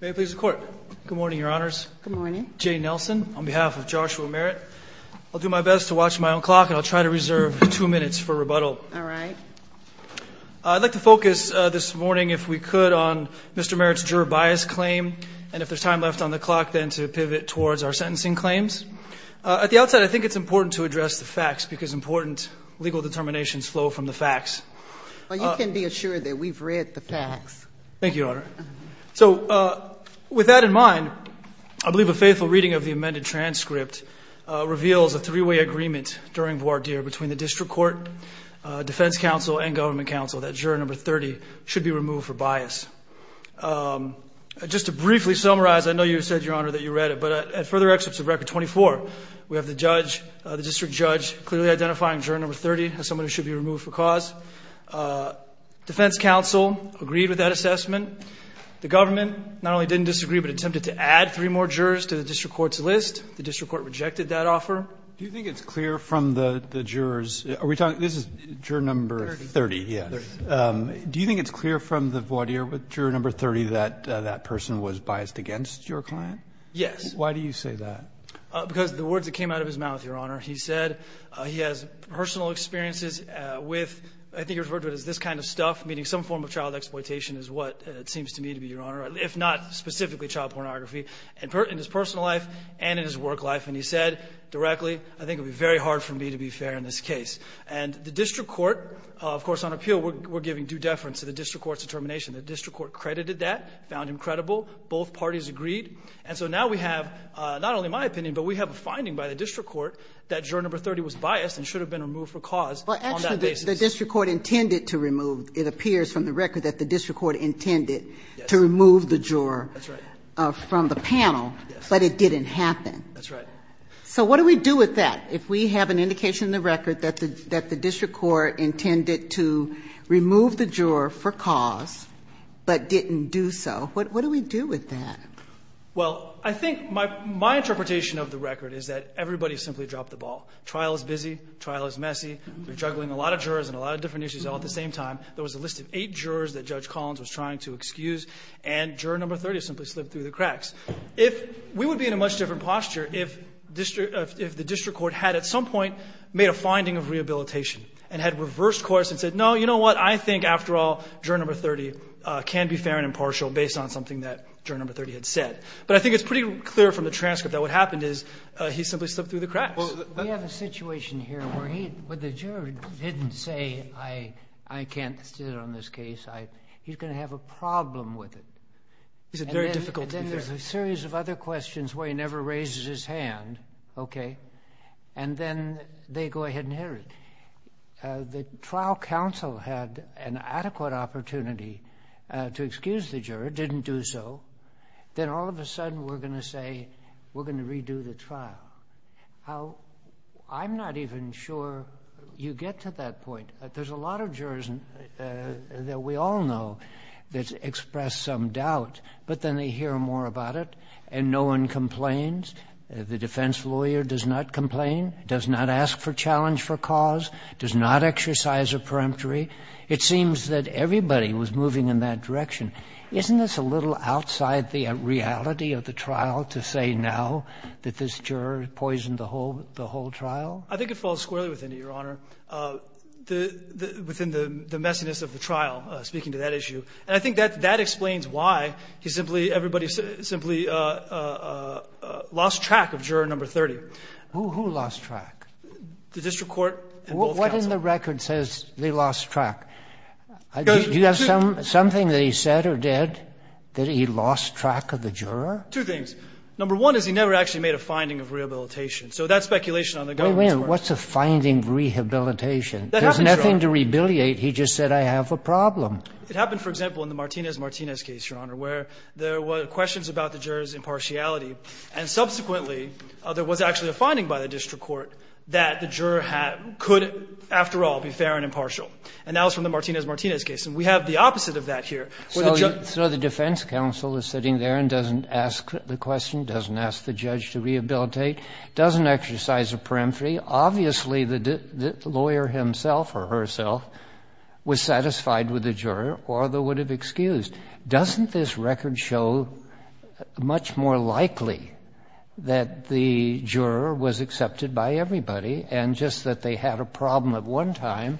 May it please the Court. Good morning, Your Honors. Good morning. Jay Nelson on behalf of Joshua Merritt. I'll do my best to watch my own clock and I'll try to reserve two minutes for rebuttal. All right. I'd like to focus this morning, if we could, on Mr. Merritt's juror bias claim and if there's time left on the clock then to pivot towards our sentencing claims. At the outset, I think it's important to address the facts because important legal determinations flow from the facts. Well, you can be assured that we've read the facts. Thank you, Your Honor. So with that in mind, I believe a faithful reading of the amended transcript reveals a three-way agreement during voir dire between the district court, defense counsel, and government counsel that juror number 30 should be removed for bias. Just to briefly summarize, I know you said, Your Honor, that you read it, but at further excerpts of Record 24, we have the judge, the district judge, clearly identifying juror number 30 as someone who should be removed for cause. Defense counsel agreed with that assessment. The government not only didn't disagree but attempted to add three more jurors to the district court's list. The district court rejected that offer. Do you think it's clear from the jurors? Are we talking, this is juror number 30, yes. Do you think it's clear from the voir dire with juror number 30 that that person was biased against your client? Yes. Why do you say that? Because the words that came out of his mouth, Your Honor. He said he has personal experiences with, I think you referred to it as this kind of stuff, meaning some form of child exploitation is what it seems to me to be, Your Honor, if not specifically child pornography in his personal life and in his work life. And he said directly, I think it would be very hard for me to be fair in this case. And the district court, of course, on appeal, we're giving due deference to the district court's determination. The district court credited that, found him credible. Both parties agreed. And so now we have, not only my opinion, but we have a finding by the district court that juror number 30 was biased and should have been removed for cause on that basis. But actually the district court intended to remove, it appears from the record that the district court intended to remove the juror from the panel. Yes. But it didn't happen. That's right. So what do we do with that? If we have an indication in the record that the district court intended to remove the juror for cause but didn't do so, what do we do with that? Well, I think my interpretation of the record is that everybody simply dropped the ball. Trial is busy. Trial is messy. They're juggling a lot of jurors and a lot of different issues all at the same time. There was a list of eight jurors that Judge Collins was trying to excuse, and juror number 30 simply slipped through the cracks. We would be in a much different posture if the district court had at some point made a finding of rehabilitation and had reversed course and said, no, you know what, I think, after all, juror number 30 can be fair and impartial based on something that juror number 30 had said. But I think it's pretty clear from the transcript that what happened is he simply slipped through the cracks. We have a situation here where the juror didn't say, I can't sit on this case. He's going to have a problem with it. Is it very difficult to be fair? And then there's a series of other questions where he never raises his hand, okay, and then they go ahead and hit her. The trial counsel had an adequate opportunity to excuse the juror, didn't do so. Then all of a sudden we're going to say we're going to redo the trial. I'm not even sure you get to that point. There's a lot of jurors that we all know that express some doubt, but then they hear more about it and no one complains. The defense lawyer does not complain, does not ask for challenge for cause, does not exercise a peremptory. It seems that everybody was moving in that direction. Isn't this a little outside the reality of the trial to say now that this juror poisoned the whole trial? I think it falls squarely within it, Your Honor, within the messiness of the trial, speaking to that issue. And I think that that explains why he simply, everybody simply lost track of juror number 30. Who lost track? The district court and both counsels. What in the record says they lost track? Do you have something that he said or did that he lost track of the juror? Two things. Number one is he never actually made a finding of rehabilitation. So that speculation on the government's part. Wait a minute. What's a finding of rehabilitation? That happens, Your Honor. There's nothing to rebiliate. He just said I have a problem. It happened, for example, in the Martinez-Martinez case, Your Honor, where there were questions about the juror's impartiality, and subsequently there was actually a finding by the district court that the juror could, after all, be fair and impartial. And that was from the Martinez-Martinez case. And we have the opposite of that here. So the defense counsel is sitting there and doesn't ask the question, doesn't ask the judge to rehabilitate, doesn't exercise a peremptory. Obviously, the lawyer himself or herself was satisfied with the juror or they would have excused. Doesn't this record show much more likely that the juror was accepted by everybody and just that they had a problem at one time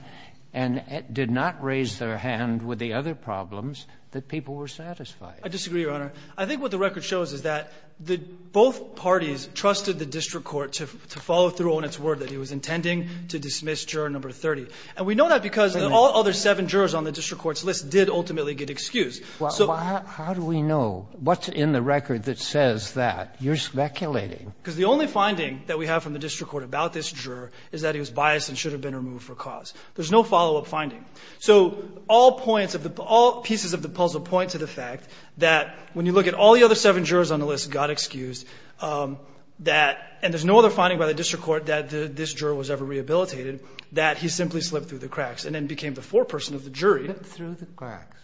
and did not raise their hand with the other problems that people were satisfied? I disagree, Your Honor. I think what the record shows is that both parties trusted the district court to follow through on its word, that he was intending to dismiss juror number 30. And we know that because all other seven jurors on the district court's list did ultimately get excused. So the only finding that we have from the district court about this juror is that he was biased and should have been removed for cause. There's no follow-up finding. So all points of the – all pieces of the puzzle point to the fact that when you look at all the other seven jurors on the list got excused, that – and there's no other evidence in the district court that this juror was ever rehabilitated, that he simply slipped through the cracks and then became the foreperson of the jury. Slipped through the cracks.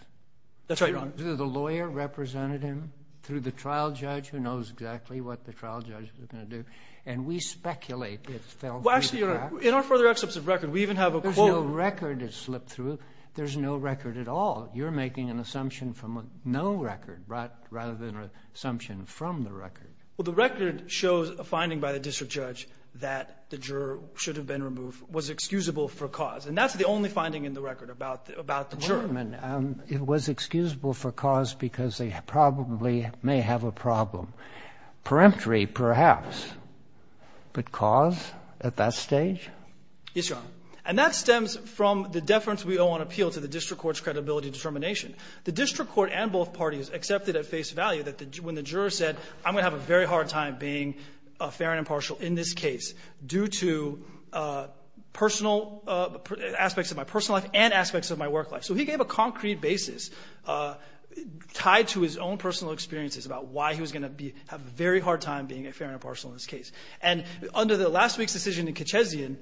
That's right, Your Honor. The lawyer represented him through the trial judge who knows exactly what the trial judge was going to do. And we speculate it fell through the cracks. Well, actually, Your Honor, in our further excerpts of record, we even have a quote. There's no record that slipped through. There's no record at all. You're making an assumption from a no record rather than an assumption from the record. Well, the record shows a finding by the district judge that the juror should have been removed, was excusable for cause. And that's the only finding in the record about the juror. Wait a minute. It was excusable for cause because they probably may have a problem, peremptory perhaps, but cause at that stage? Yes, Your Honor. And that stems from the deference we owe on appeal to the district court's credibility determination. The district court and both parties accepted at face value that when the juror said I'm going to have a very hard time being fair and impartial in this case due to aspects of my personal life and aspects of my work life. So he gave a concrete basis tied to his own personal experiences about why he was going to have a very hard time being fair and impartial in this case. And under the last week's decision in Kitchezian,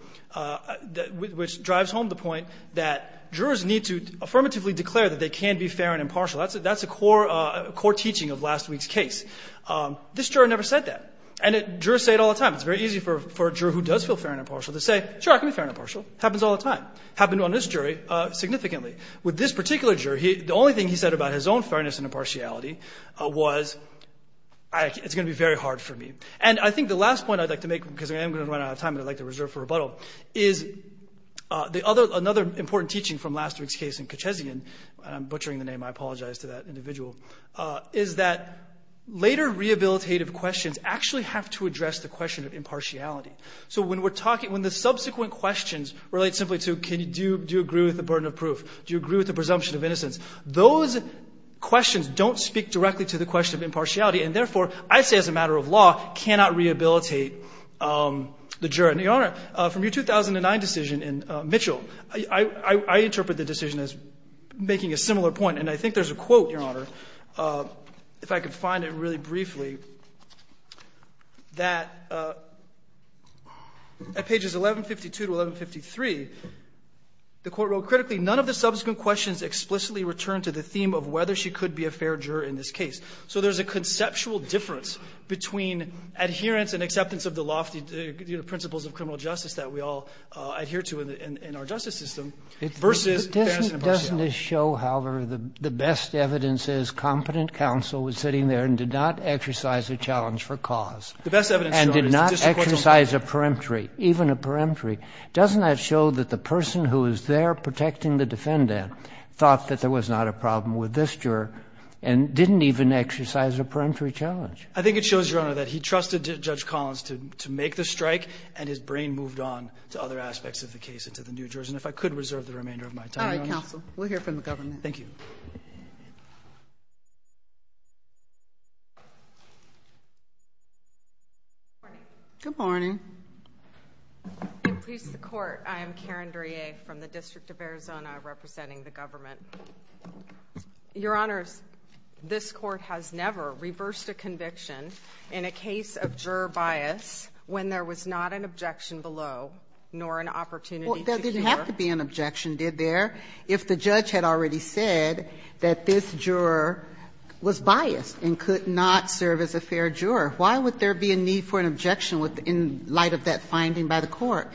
which drives home the point that jurors need to affirmatively declare that they can be fair and impartial. That's a core teaching of last week's case. This juror never said that. And jurors say it all the time. It's very easy for a juror who does feel fair and impartial to say, sure, I can be fair and impartial. Happens all the time. Happened on this jury significantly. With this particular juror, the only thing he said about his own fairness and impartiality was it's going to be very hard for me. And I think the last point I'd like to make, because I am going to run out of time and I'd like to reserve for rebuttal, is another important teaching from last week's case in Kitchezian. I'm butchering the name. I apologize to that individual. Is that later rehabilitative questions actually have to address the question of impartiality. So when we're talking – when the subsequent questions relate simply to can you – do you agree with the burden of proof? Do you agree with the presumption of innocence? Those questions don't speak directly to the question of impartiality. And therefore, I say as a matter of law, cannot rehabilitate the juror. And, Your Honor, from your 2009 decision in Mitchell, I interpret the decision as making a similar point. And I think there's a quote, Your Honor, if I could find it really briefly, that at pages 1152 to 1153, the Court wrote, Critically, none of the subsequent questions explicitly return to the theme of whether she could be a fair juror in this case. So there's a conceptual difference between adherence and acceptance of the lofty principles of criminal justice that we all adhere to in our justice system versus fairness and impartiality. But doesn't this show, however, the best evidence is competent counsel was sitting there and did not exercise a challenge for cause. The best evidence, Your Honor, is the subsequent question. And did not exercise a peremptory, even a peremptory. Doesn't that show that the person who was there protecting the defendant thought that there was not a problem with this juror and didn't even exercise a peremptory challenge? I think it shows, Your Honor, that he trusted Judge Collins to make the strike and his brain moved on to other aspects of the case and to the New Jersey. And if I could reserve the remainder of my time, Your Honor. All right, counsel. We'll hear from the government. Thank you. Good morning. Good morning. Good morning. Good morning. Good morning. Good morning. Good morning. Good morning. Good morning. Good morning. Good morning. Good morning. Good morning. Good morning. Good morning. Ms. Jacobs, you said earlier that there's an obligation in a case of juror bias when there was not an objection below, nor an opportunity to cure. Well, there didn't have to be an objection, did there, if the judge had already said that this juror was biased and could not serve as a fair juror? Why would there be a need for an objection in light of that finding by the court?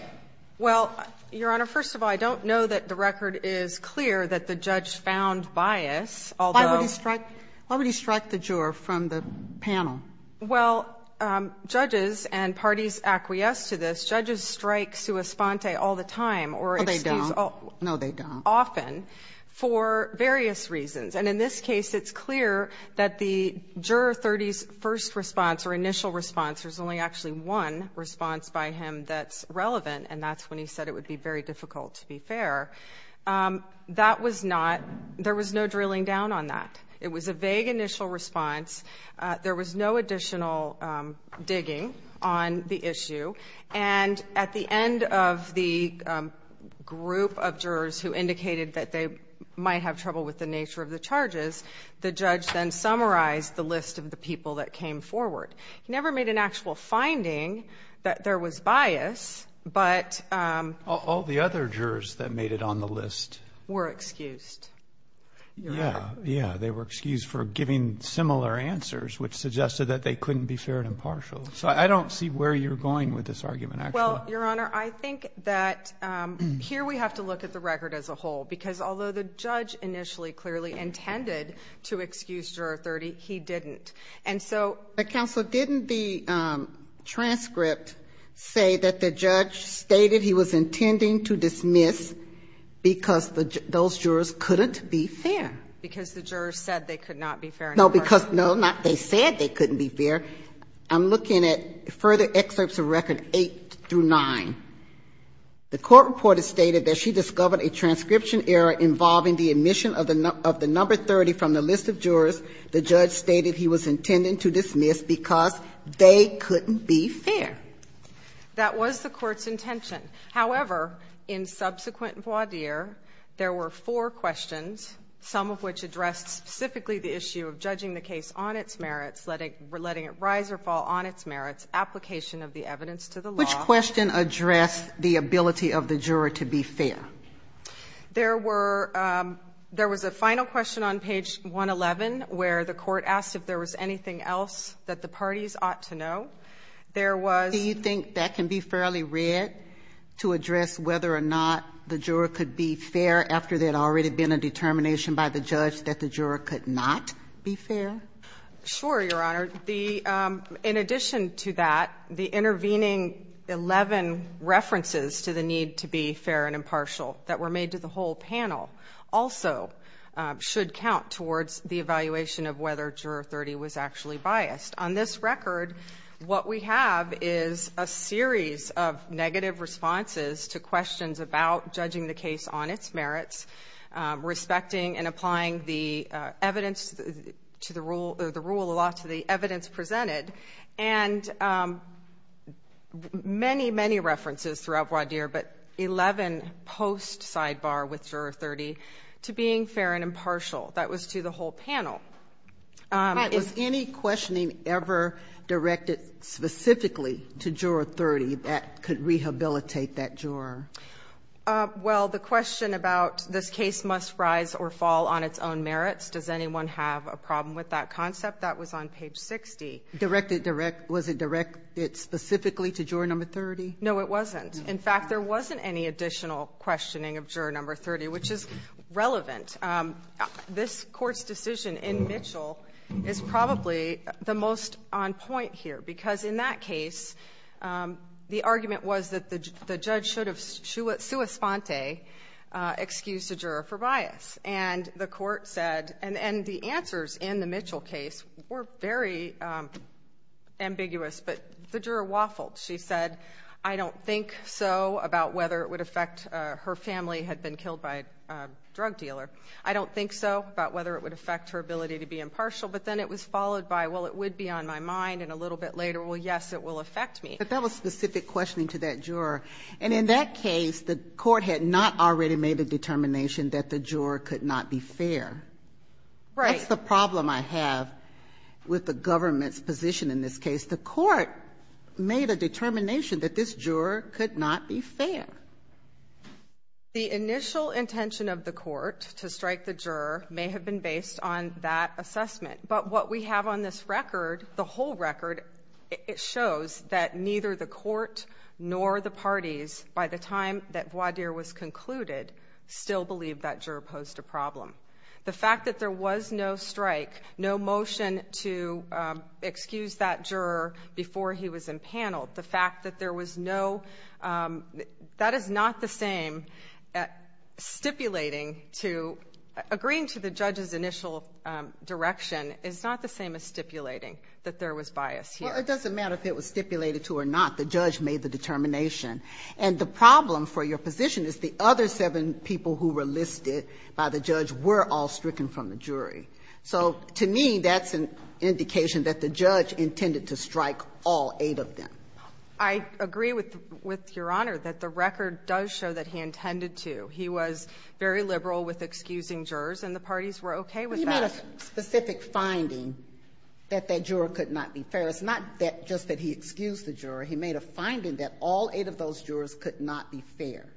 Well, Your Honor, first of all, I don't know that the record is clear that the judge found bias. Why would he strike the juror from the panel? Well, judges and parties acquiesced to this, judges strike sua sponte all the time. Oh, they don't. No, they don't. Often, for various reasons. And in this case, it's clear that the juror's first response or initial response, there's only actually one response by him that's relevant, and that's when he said it would be very difficult to be fair. That was not, there was no drilling down on that. It was a vague initial response. There was no additional digging on the issue. And at the end of the group of jurors who indicated that they might have trouble with the nature of the charges, the judge then summarized the list of the people that came forward. He never made an actual finding that there was bias, but... All the other jurors that made it on the list... Were excused. Yeah, yeah, they were excused for giving similar answers, which suggested that they couldn't be fair and impartial. So I don't see where you're going with this argument, actually. Well, Your Honor, I think that here we have to look at the record as a whole, because although the judge initially clearly intended to excuse Juror 30, he didn't. And so... But, Counselor, didn't the transcript say that the judge stated he was intending to dismiss because those jurors couldn't be fair? Because the jurors said they could not be fair and impartial. No, because, no, not they said they couldn't be fair. I'm looking at further excerpts of record 8 through 9. The court reported stated that she discovered a transcription error involving the admission of the number 30 from the list of jurors. The judge stated he was intending to dismiss because they couldn't be fair. That was the court's intention. However, in subsequent voir dire, there were four questions, some of which addressed specifically the issue of judging the case on its merits, letting it rise or fall on its merits, application of the evidence to the law. Which question addressed the ability of the juror to be fair? There were... There was a final question on page 111 where the court asked if there was anything else that the parties ought to know. There was... Do you think that can be fairly read to address whether or not the juror could be fair after there had already been a determination by the judge that the juror could not be fair? Sure, Your Honor. In addition to that, the intervening 11 references to the need to be fair and impartial that were made to the whole panel also should count towards the evaluation of whether Juror 30 was actually biased. On this record, what we have is a series of negative responses to questions about judging the case on its merits, respecting and applying the evidence to the rule or the rule of law to the evidence presented, and many, many references throughout voir dire, but 11 post sidebar with Juror 30 to being fair and impartial. That was to the whole panel. Is any questioning ever directed specifically to Juror 30 that could rehabilitate that juror? Well, the question about this case must rise or fall on its own merits, does anyone have a problem with that concept? That was on page 60. Was it directed specifically to Juror 30? No, it wasn't. In fact, there wasn't any additional questioning of Juror 30, which is relevant. This Court's decision in Mitchell is probably the most on point here, because in that case, the argument was that the judge should have sua sponte, excused the juror for bias, and the Court said, and the answers in the Mitchell case were very ambiguous, but the juror waffled. She said, I don't think so about whether it would affect her family had been killed by a drug dealer. I don't think so about whether it would affect her ability to be impartial, but then it was followed by, well, it would be on my mind, and a little bit later, well, yes, it will affect me. But that was specific questioning to that juror, and in that case, the Court had not already made a determination that the juror could not be fair. Right. That's the problem I have with the government's position in this case. The Court made a determination that this juror could not be fair. The initial intention of the Court to strike the juror may have been based on that assessment, but what we have on this record, the whole record, it shows that neither the Court nor the parties, by the time that Boisdre was concluded, still believed that juror posed a problem. The fact that there was no strike, no motion to excuse that juror before he was empaneled, the fact that there was no, that is not the same. Stipulating to, agreeing to the judge's initial direction is not the same as stipulating that there was bias here. Well, it doesn't matter if it was stipulated to or not. The judge made the determination, and the problem for your position is the other seven people who were listed by the judge were all stricken from the jury. So to me, that's an indication that the judge intended to strike all eight of them. I agree with Your Honor that the record does show that he intended to. He was very liberal with excusing jurors, and the parties were okay with that. He made a specific finding that that juror could not be fair. It's not just that he excused the juror. He made a finding that all eight of those jurors could not be fair.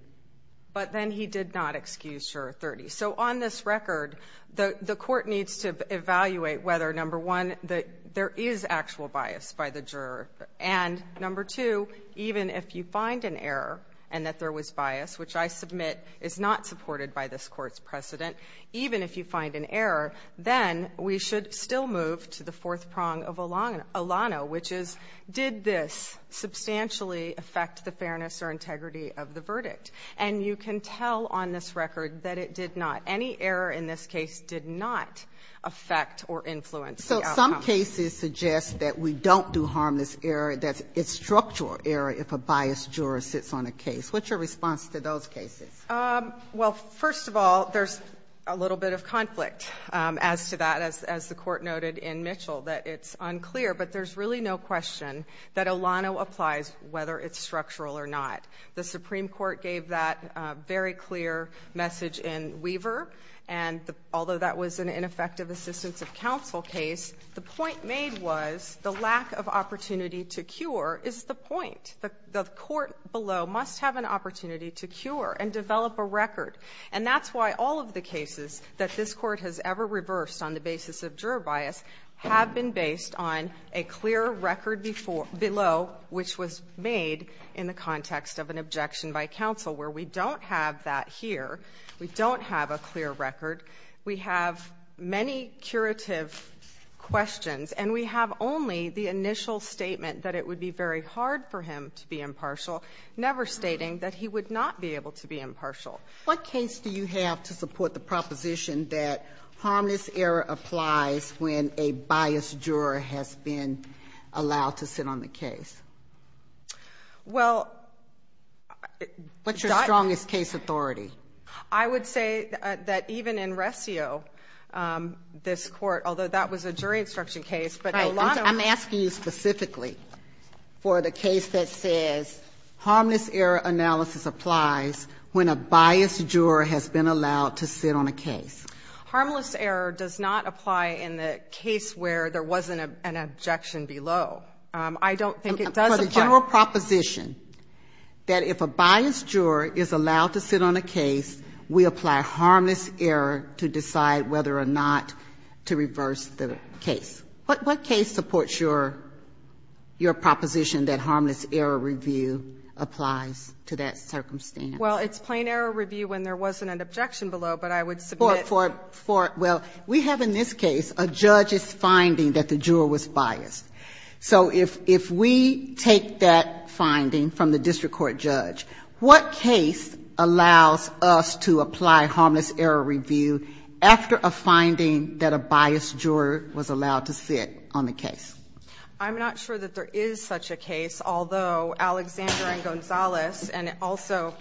But then he did not excuse Juror 30. So on this record, the court needs to evaluate whether, number one, that there is actual bias by the juror, and, number two, even if you find an error and that there was bias, which I submit is not supported by this Court's precedent, even if you find an error, then we should still move to the fourth prong of Alano, which is did this substantially affect the fairness or integrity of the verdict? And you can tell on this record that it did not. Any error in this case did not affect or influence the outcome. So some cases suggest that we don't do harmless error, that it's structural error if a biased juror sits on a case. What's your response to those cases? Well, first of all, there's a little bit of conflict as to that, as the Court noted in Mitchell, that it's unclear, but there's really no question that Alano applies whether it's structural or not. The Supreme Court gave that very clear message in Weaver, and although that was an ineffective assistance of counsel case, the point made was the lack of opportunity to cure is the point. The court below must have an opportunity to cure and develop a record. And that's why all of the cases that this Court has ever reversed on the basis of juror bias have been based on a clear record below which was made in the context of an objection by counsel, where we don't have that here. We don't have a clear record. We have many curative questions, and we have only the initial statement that it would be very hard for him to be impartial, never stating that he would not be able to be the obstructive inheritance error step. What case do you have to support the proposition that harmless error applies when a biased juror has been allowed to sit on the case? Well, What's your strongest case authority? I would say that even in Resio, this court, although that was a jury instruction case, but a lot of I'm asking you specifically for the case that says harmless error analysis applies when a biased juror has been allowed to sit on a case. Harmless error does not apply in the case where there wasn't an objection below. I don't think it does apply. For the general proposition that if a biased juror is allowed to sit on a case, we apply harmless error to decide whether or not to reverse the case. What case supports your proposition that harmless error review applies to that circumstance? Well, it's plain error review when there wasn't an objection below, but I would submit Well, we have in this case a judge's finding that the juror was biased. So if we take that finding from the district court judge, what case allows us to apply harmless error review after a finding that a biased juror was allowed to sit on the case? I'm not sure that there is such a case, although Alexander and Gonzalez and also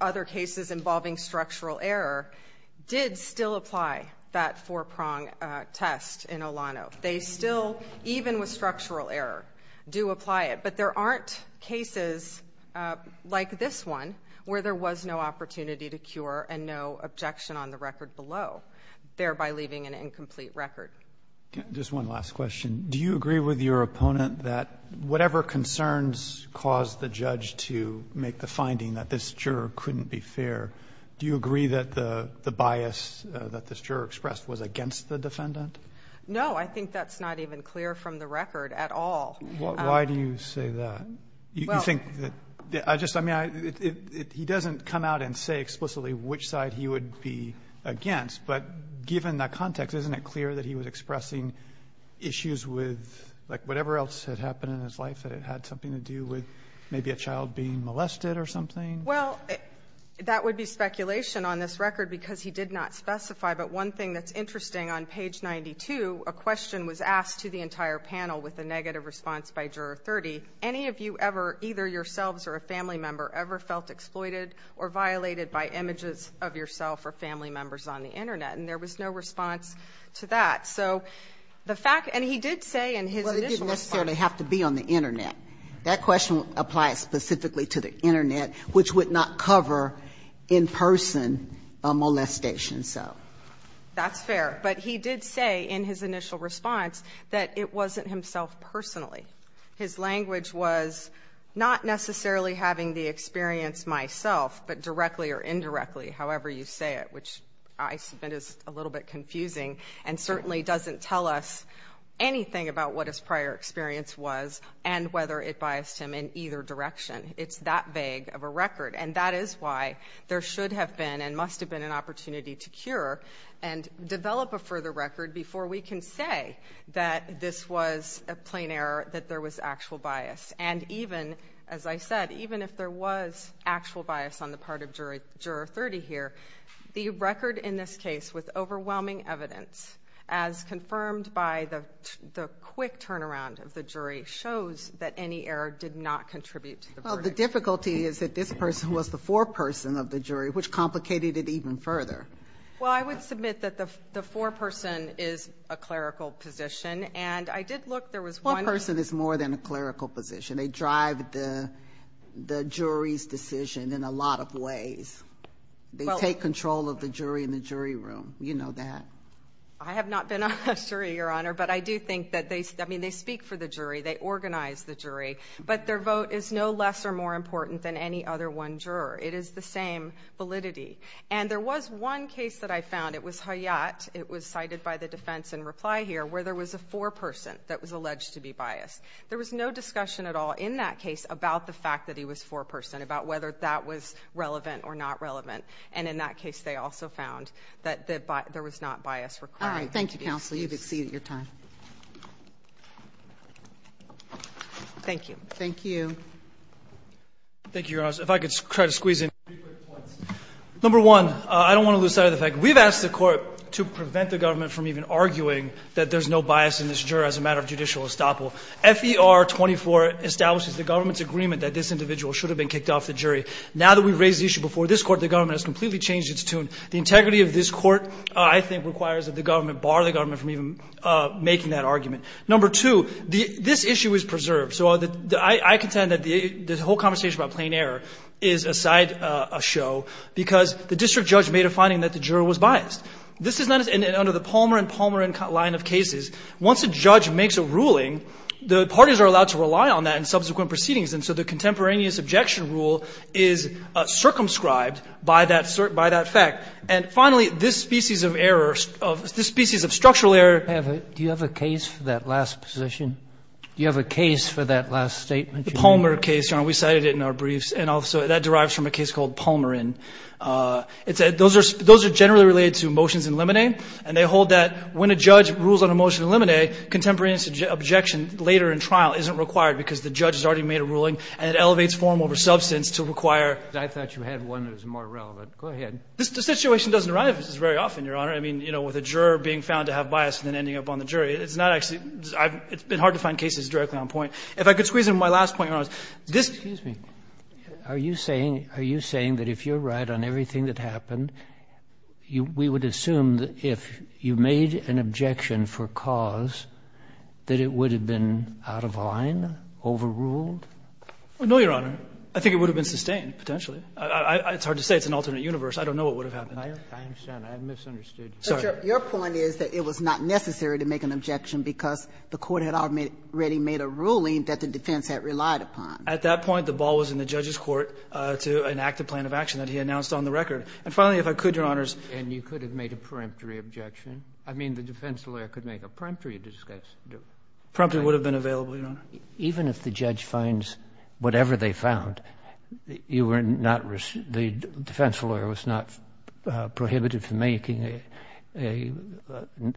other cases involving structural error did still apply that four-prong test in Olano. They still, even with structural error, do apply it. But there aren't cases like this one where there was no opportunity to cure and no objection on the record below, thereby leaving an incomplete record. Just one last question. Do you agree with your opponent that whatever concerns caused the judge to make the finding that this juror couldn't be fair, do you agree that the bias that this juror expressed was against the defendant? No. I think that's not even clear from the record at all. Why do you say that? You think that he doesn't come out and say explicitly which side he would be against. But given the context, isn't it clear that he was expressing issues with, like, whatever else had happened in his life that had something to do with maybe a child being molested or something? Well, that would be speculation on this record because he did not specify. But one thing that's interesting, on page 92, a question was asked to the entire panel with a negative response by Juror 30. Any of you ever, either yourselves or a family member, ever felt exploited or violated by images of yourself or family members on the Internet? And there was no response to that. So the fact — and he did say in his initial response — Well, it didn't necessarily have to be on the Internet. That question applies specifically to the Internet, which would not cover in-person molestation. That's fair. But he did say in his initial response that it wasn't himself personally. His language was not necessarily having the experience myself, but directly or indirectly, however you say it, which I submit is a little bit confusing and certainly doesn't tell us anything about what his prior experience was and whether it biased him in either direction. It's that vague of a record. And that is why there should have been and must have been an opportunity to cure and develop a further record before we can say that this was a plain error, that there was actual bias. And even, as I said, even if there was actual bias on the part of Juror 30 here, the record in this case with overwhelming evidence, as confirmed by the quick turnaround of the jury, shows that any error did not contribute to the verdict. Well, the difficulty is that this person was the foreperson of the jury, which complicated it even further. Well, I would submit that the foreperson is a clerical position, and I did look. Foreperson is more than a clerical position. They drive the jury's decision in a lot of ways. They take control of the jury in the jury room. You know that. I have not been on a jury, Your Honor, but I do think that they speak for the jury. They organize the jury. But their vote is no less or more important than any other one juror. It is the same validity. And there was one case that I found, it was Hayat, it was cited by the defense in reply here, where there was a foreperson that was alleged to be biased. There was no discussion at all in that case about the fact that he was foreperson, about whether that was relevant or not relevant. And in that case they also found that there was not bias required. All right. Thank you, counsel. You've exceeded your time. Thank you. Thank you. Thank you, Your Honor. If I could try to squeeze in three quick points. Number one, I don't want to lose sight of the fact. We've asked the Court to prevent the government from even arguing that there's no bias in this jury as a matter of judicial estoppel. FER24 establishes the government's agreement that this individual should have been kicked off the jury. Now that we've raised the issue before this Court, the government has completely changed its tune. The integrity of this Court, I think, requires that the government bar the government from even making that argument. Number two, this issue is preserved. So I contend that the whole conversation about plain error is a side show because the district judge made a finding that the juror was biased. This is not under the Palmer and Palmer line of cases. Once a judge makes a ruling, the parties are allowed to rely on that in subsequent proceedings. And so the contemporaneous objection rule is circumscribed by that fact. And finally, this species of error, this species of structural error. Do you have a case for that last position? Do you have a case for that last statement? The Palmer case, Your Honor. We cited it in our briefs. And also that derives from a case called Palmerin. Those are generally related to motions in limine. And they hold that when a judge rules on a motion in limine, contemporaneous objection later in trial isn't required because the judge has already made a ruling and it elevates form over substance to require. I thought you had one that was more relevant. Go ahead. The situation doesn't arrive at this very often, Your Honor. I mean, you know, with a juror being found to have bias and then ending up on the jury, it's not actually – it's been hard to find cases directly on point. If I could squeeze in my last point, Your Honor, this – Excuse me. Are you saying – are you saying that if you're right on everything that happened, we would assume that if you made an objection for cause that it would have been out of line, overruled? No, Your Honor. I think it would have been sustained potentially. It's hard to say. It's an alternate universe. I don't know what would have happened. I understand. I misunderstood. Your point is that it was not necessary to make an objection because the Court had already made a ruling that the defense had relied upon. At that point, the ball was in the judge's court to enact a plan of action that he announced on the record. And finally, if I could, Your Honors. And you could have made a peremptory objection. I mean, the defense lawyer could make a peremptory objection. Peremptory would have been available, Your Honor. Even if the judge finds whatever they found, you were not – the defense lawyer was not prohibited from making a –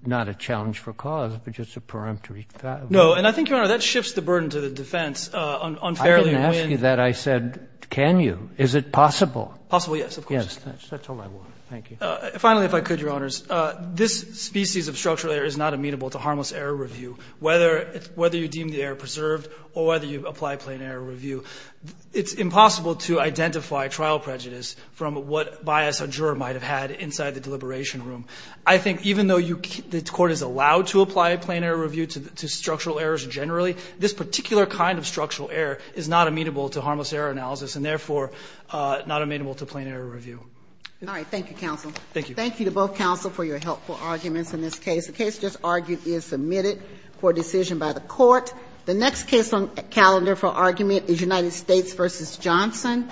not a challenge for cause, but just a peremptory – No. And I think, Your Honor, that shifts the burden to the defense. Unfairly, when – I didn't ask you that. I said, can you? Is it possible? Possible, yes, of course. Yes. That's all I want. Thank you. Finally, if I could, Your Honors. This species of structural error is not amenable to harmless error review. Whether you deem the error preserved or whether you apply plain error review, it's impossible to identify trial prejudice from what bias a juror might have had inside the deliberation room. I think even though you – the Court is allowed to apply plain error review to structural errors generally, this particular kind of structural error is not amenable to harmless error analysis and therefore not amenable to plain error review. All right. Thank you, counsel. Thank you. Thank you to both counsel for your helpful arguments in this case. The case just argued is submitted for decision by the Court. The next case on the calendar for argument is United States v. Johnson.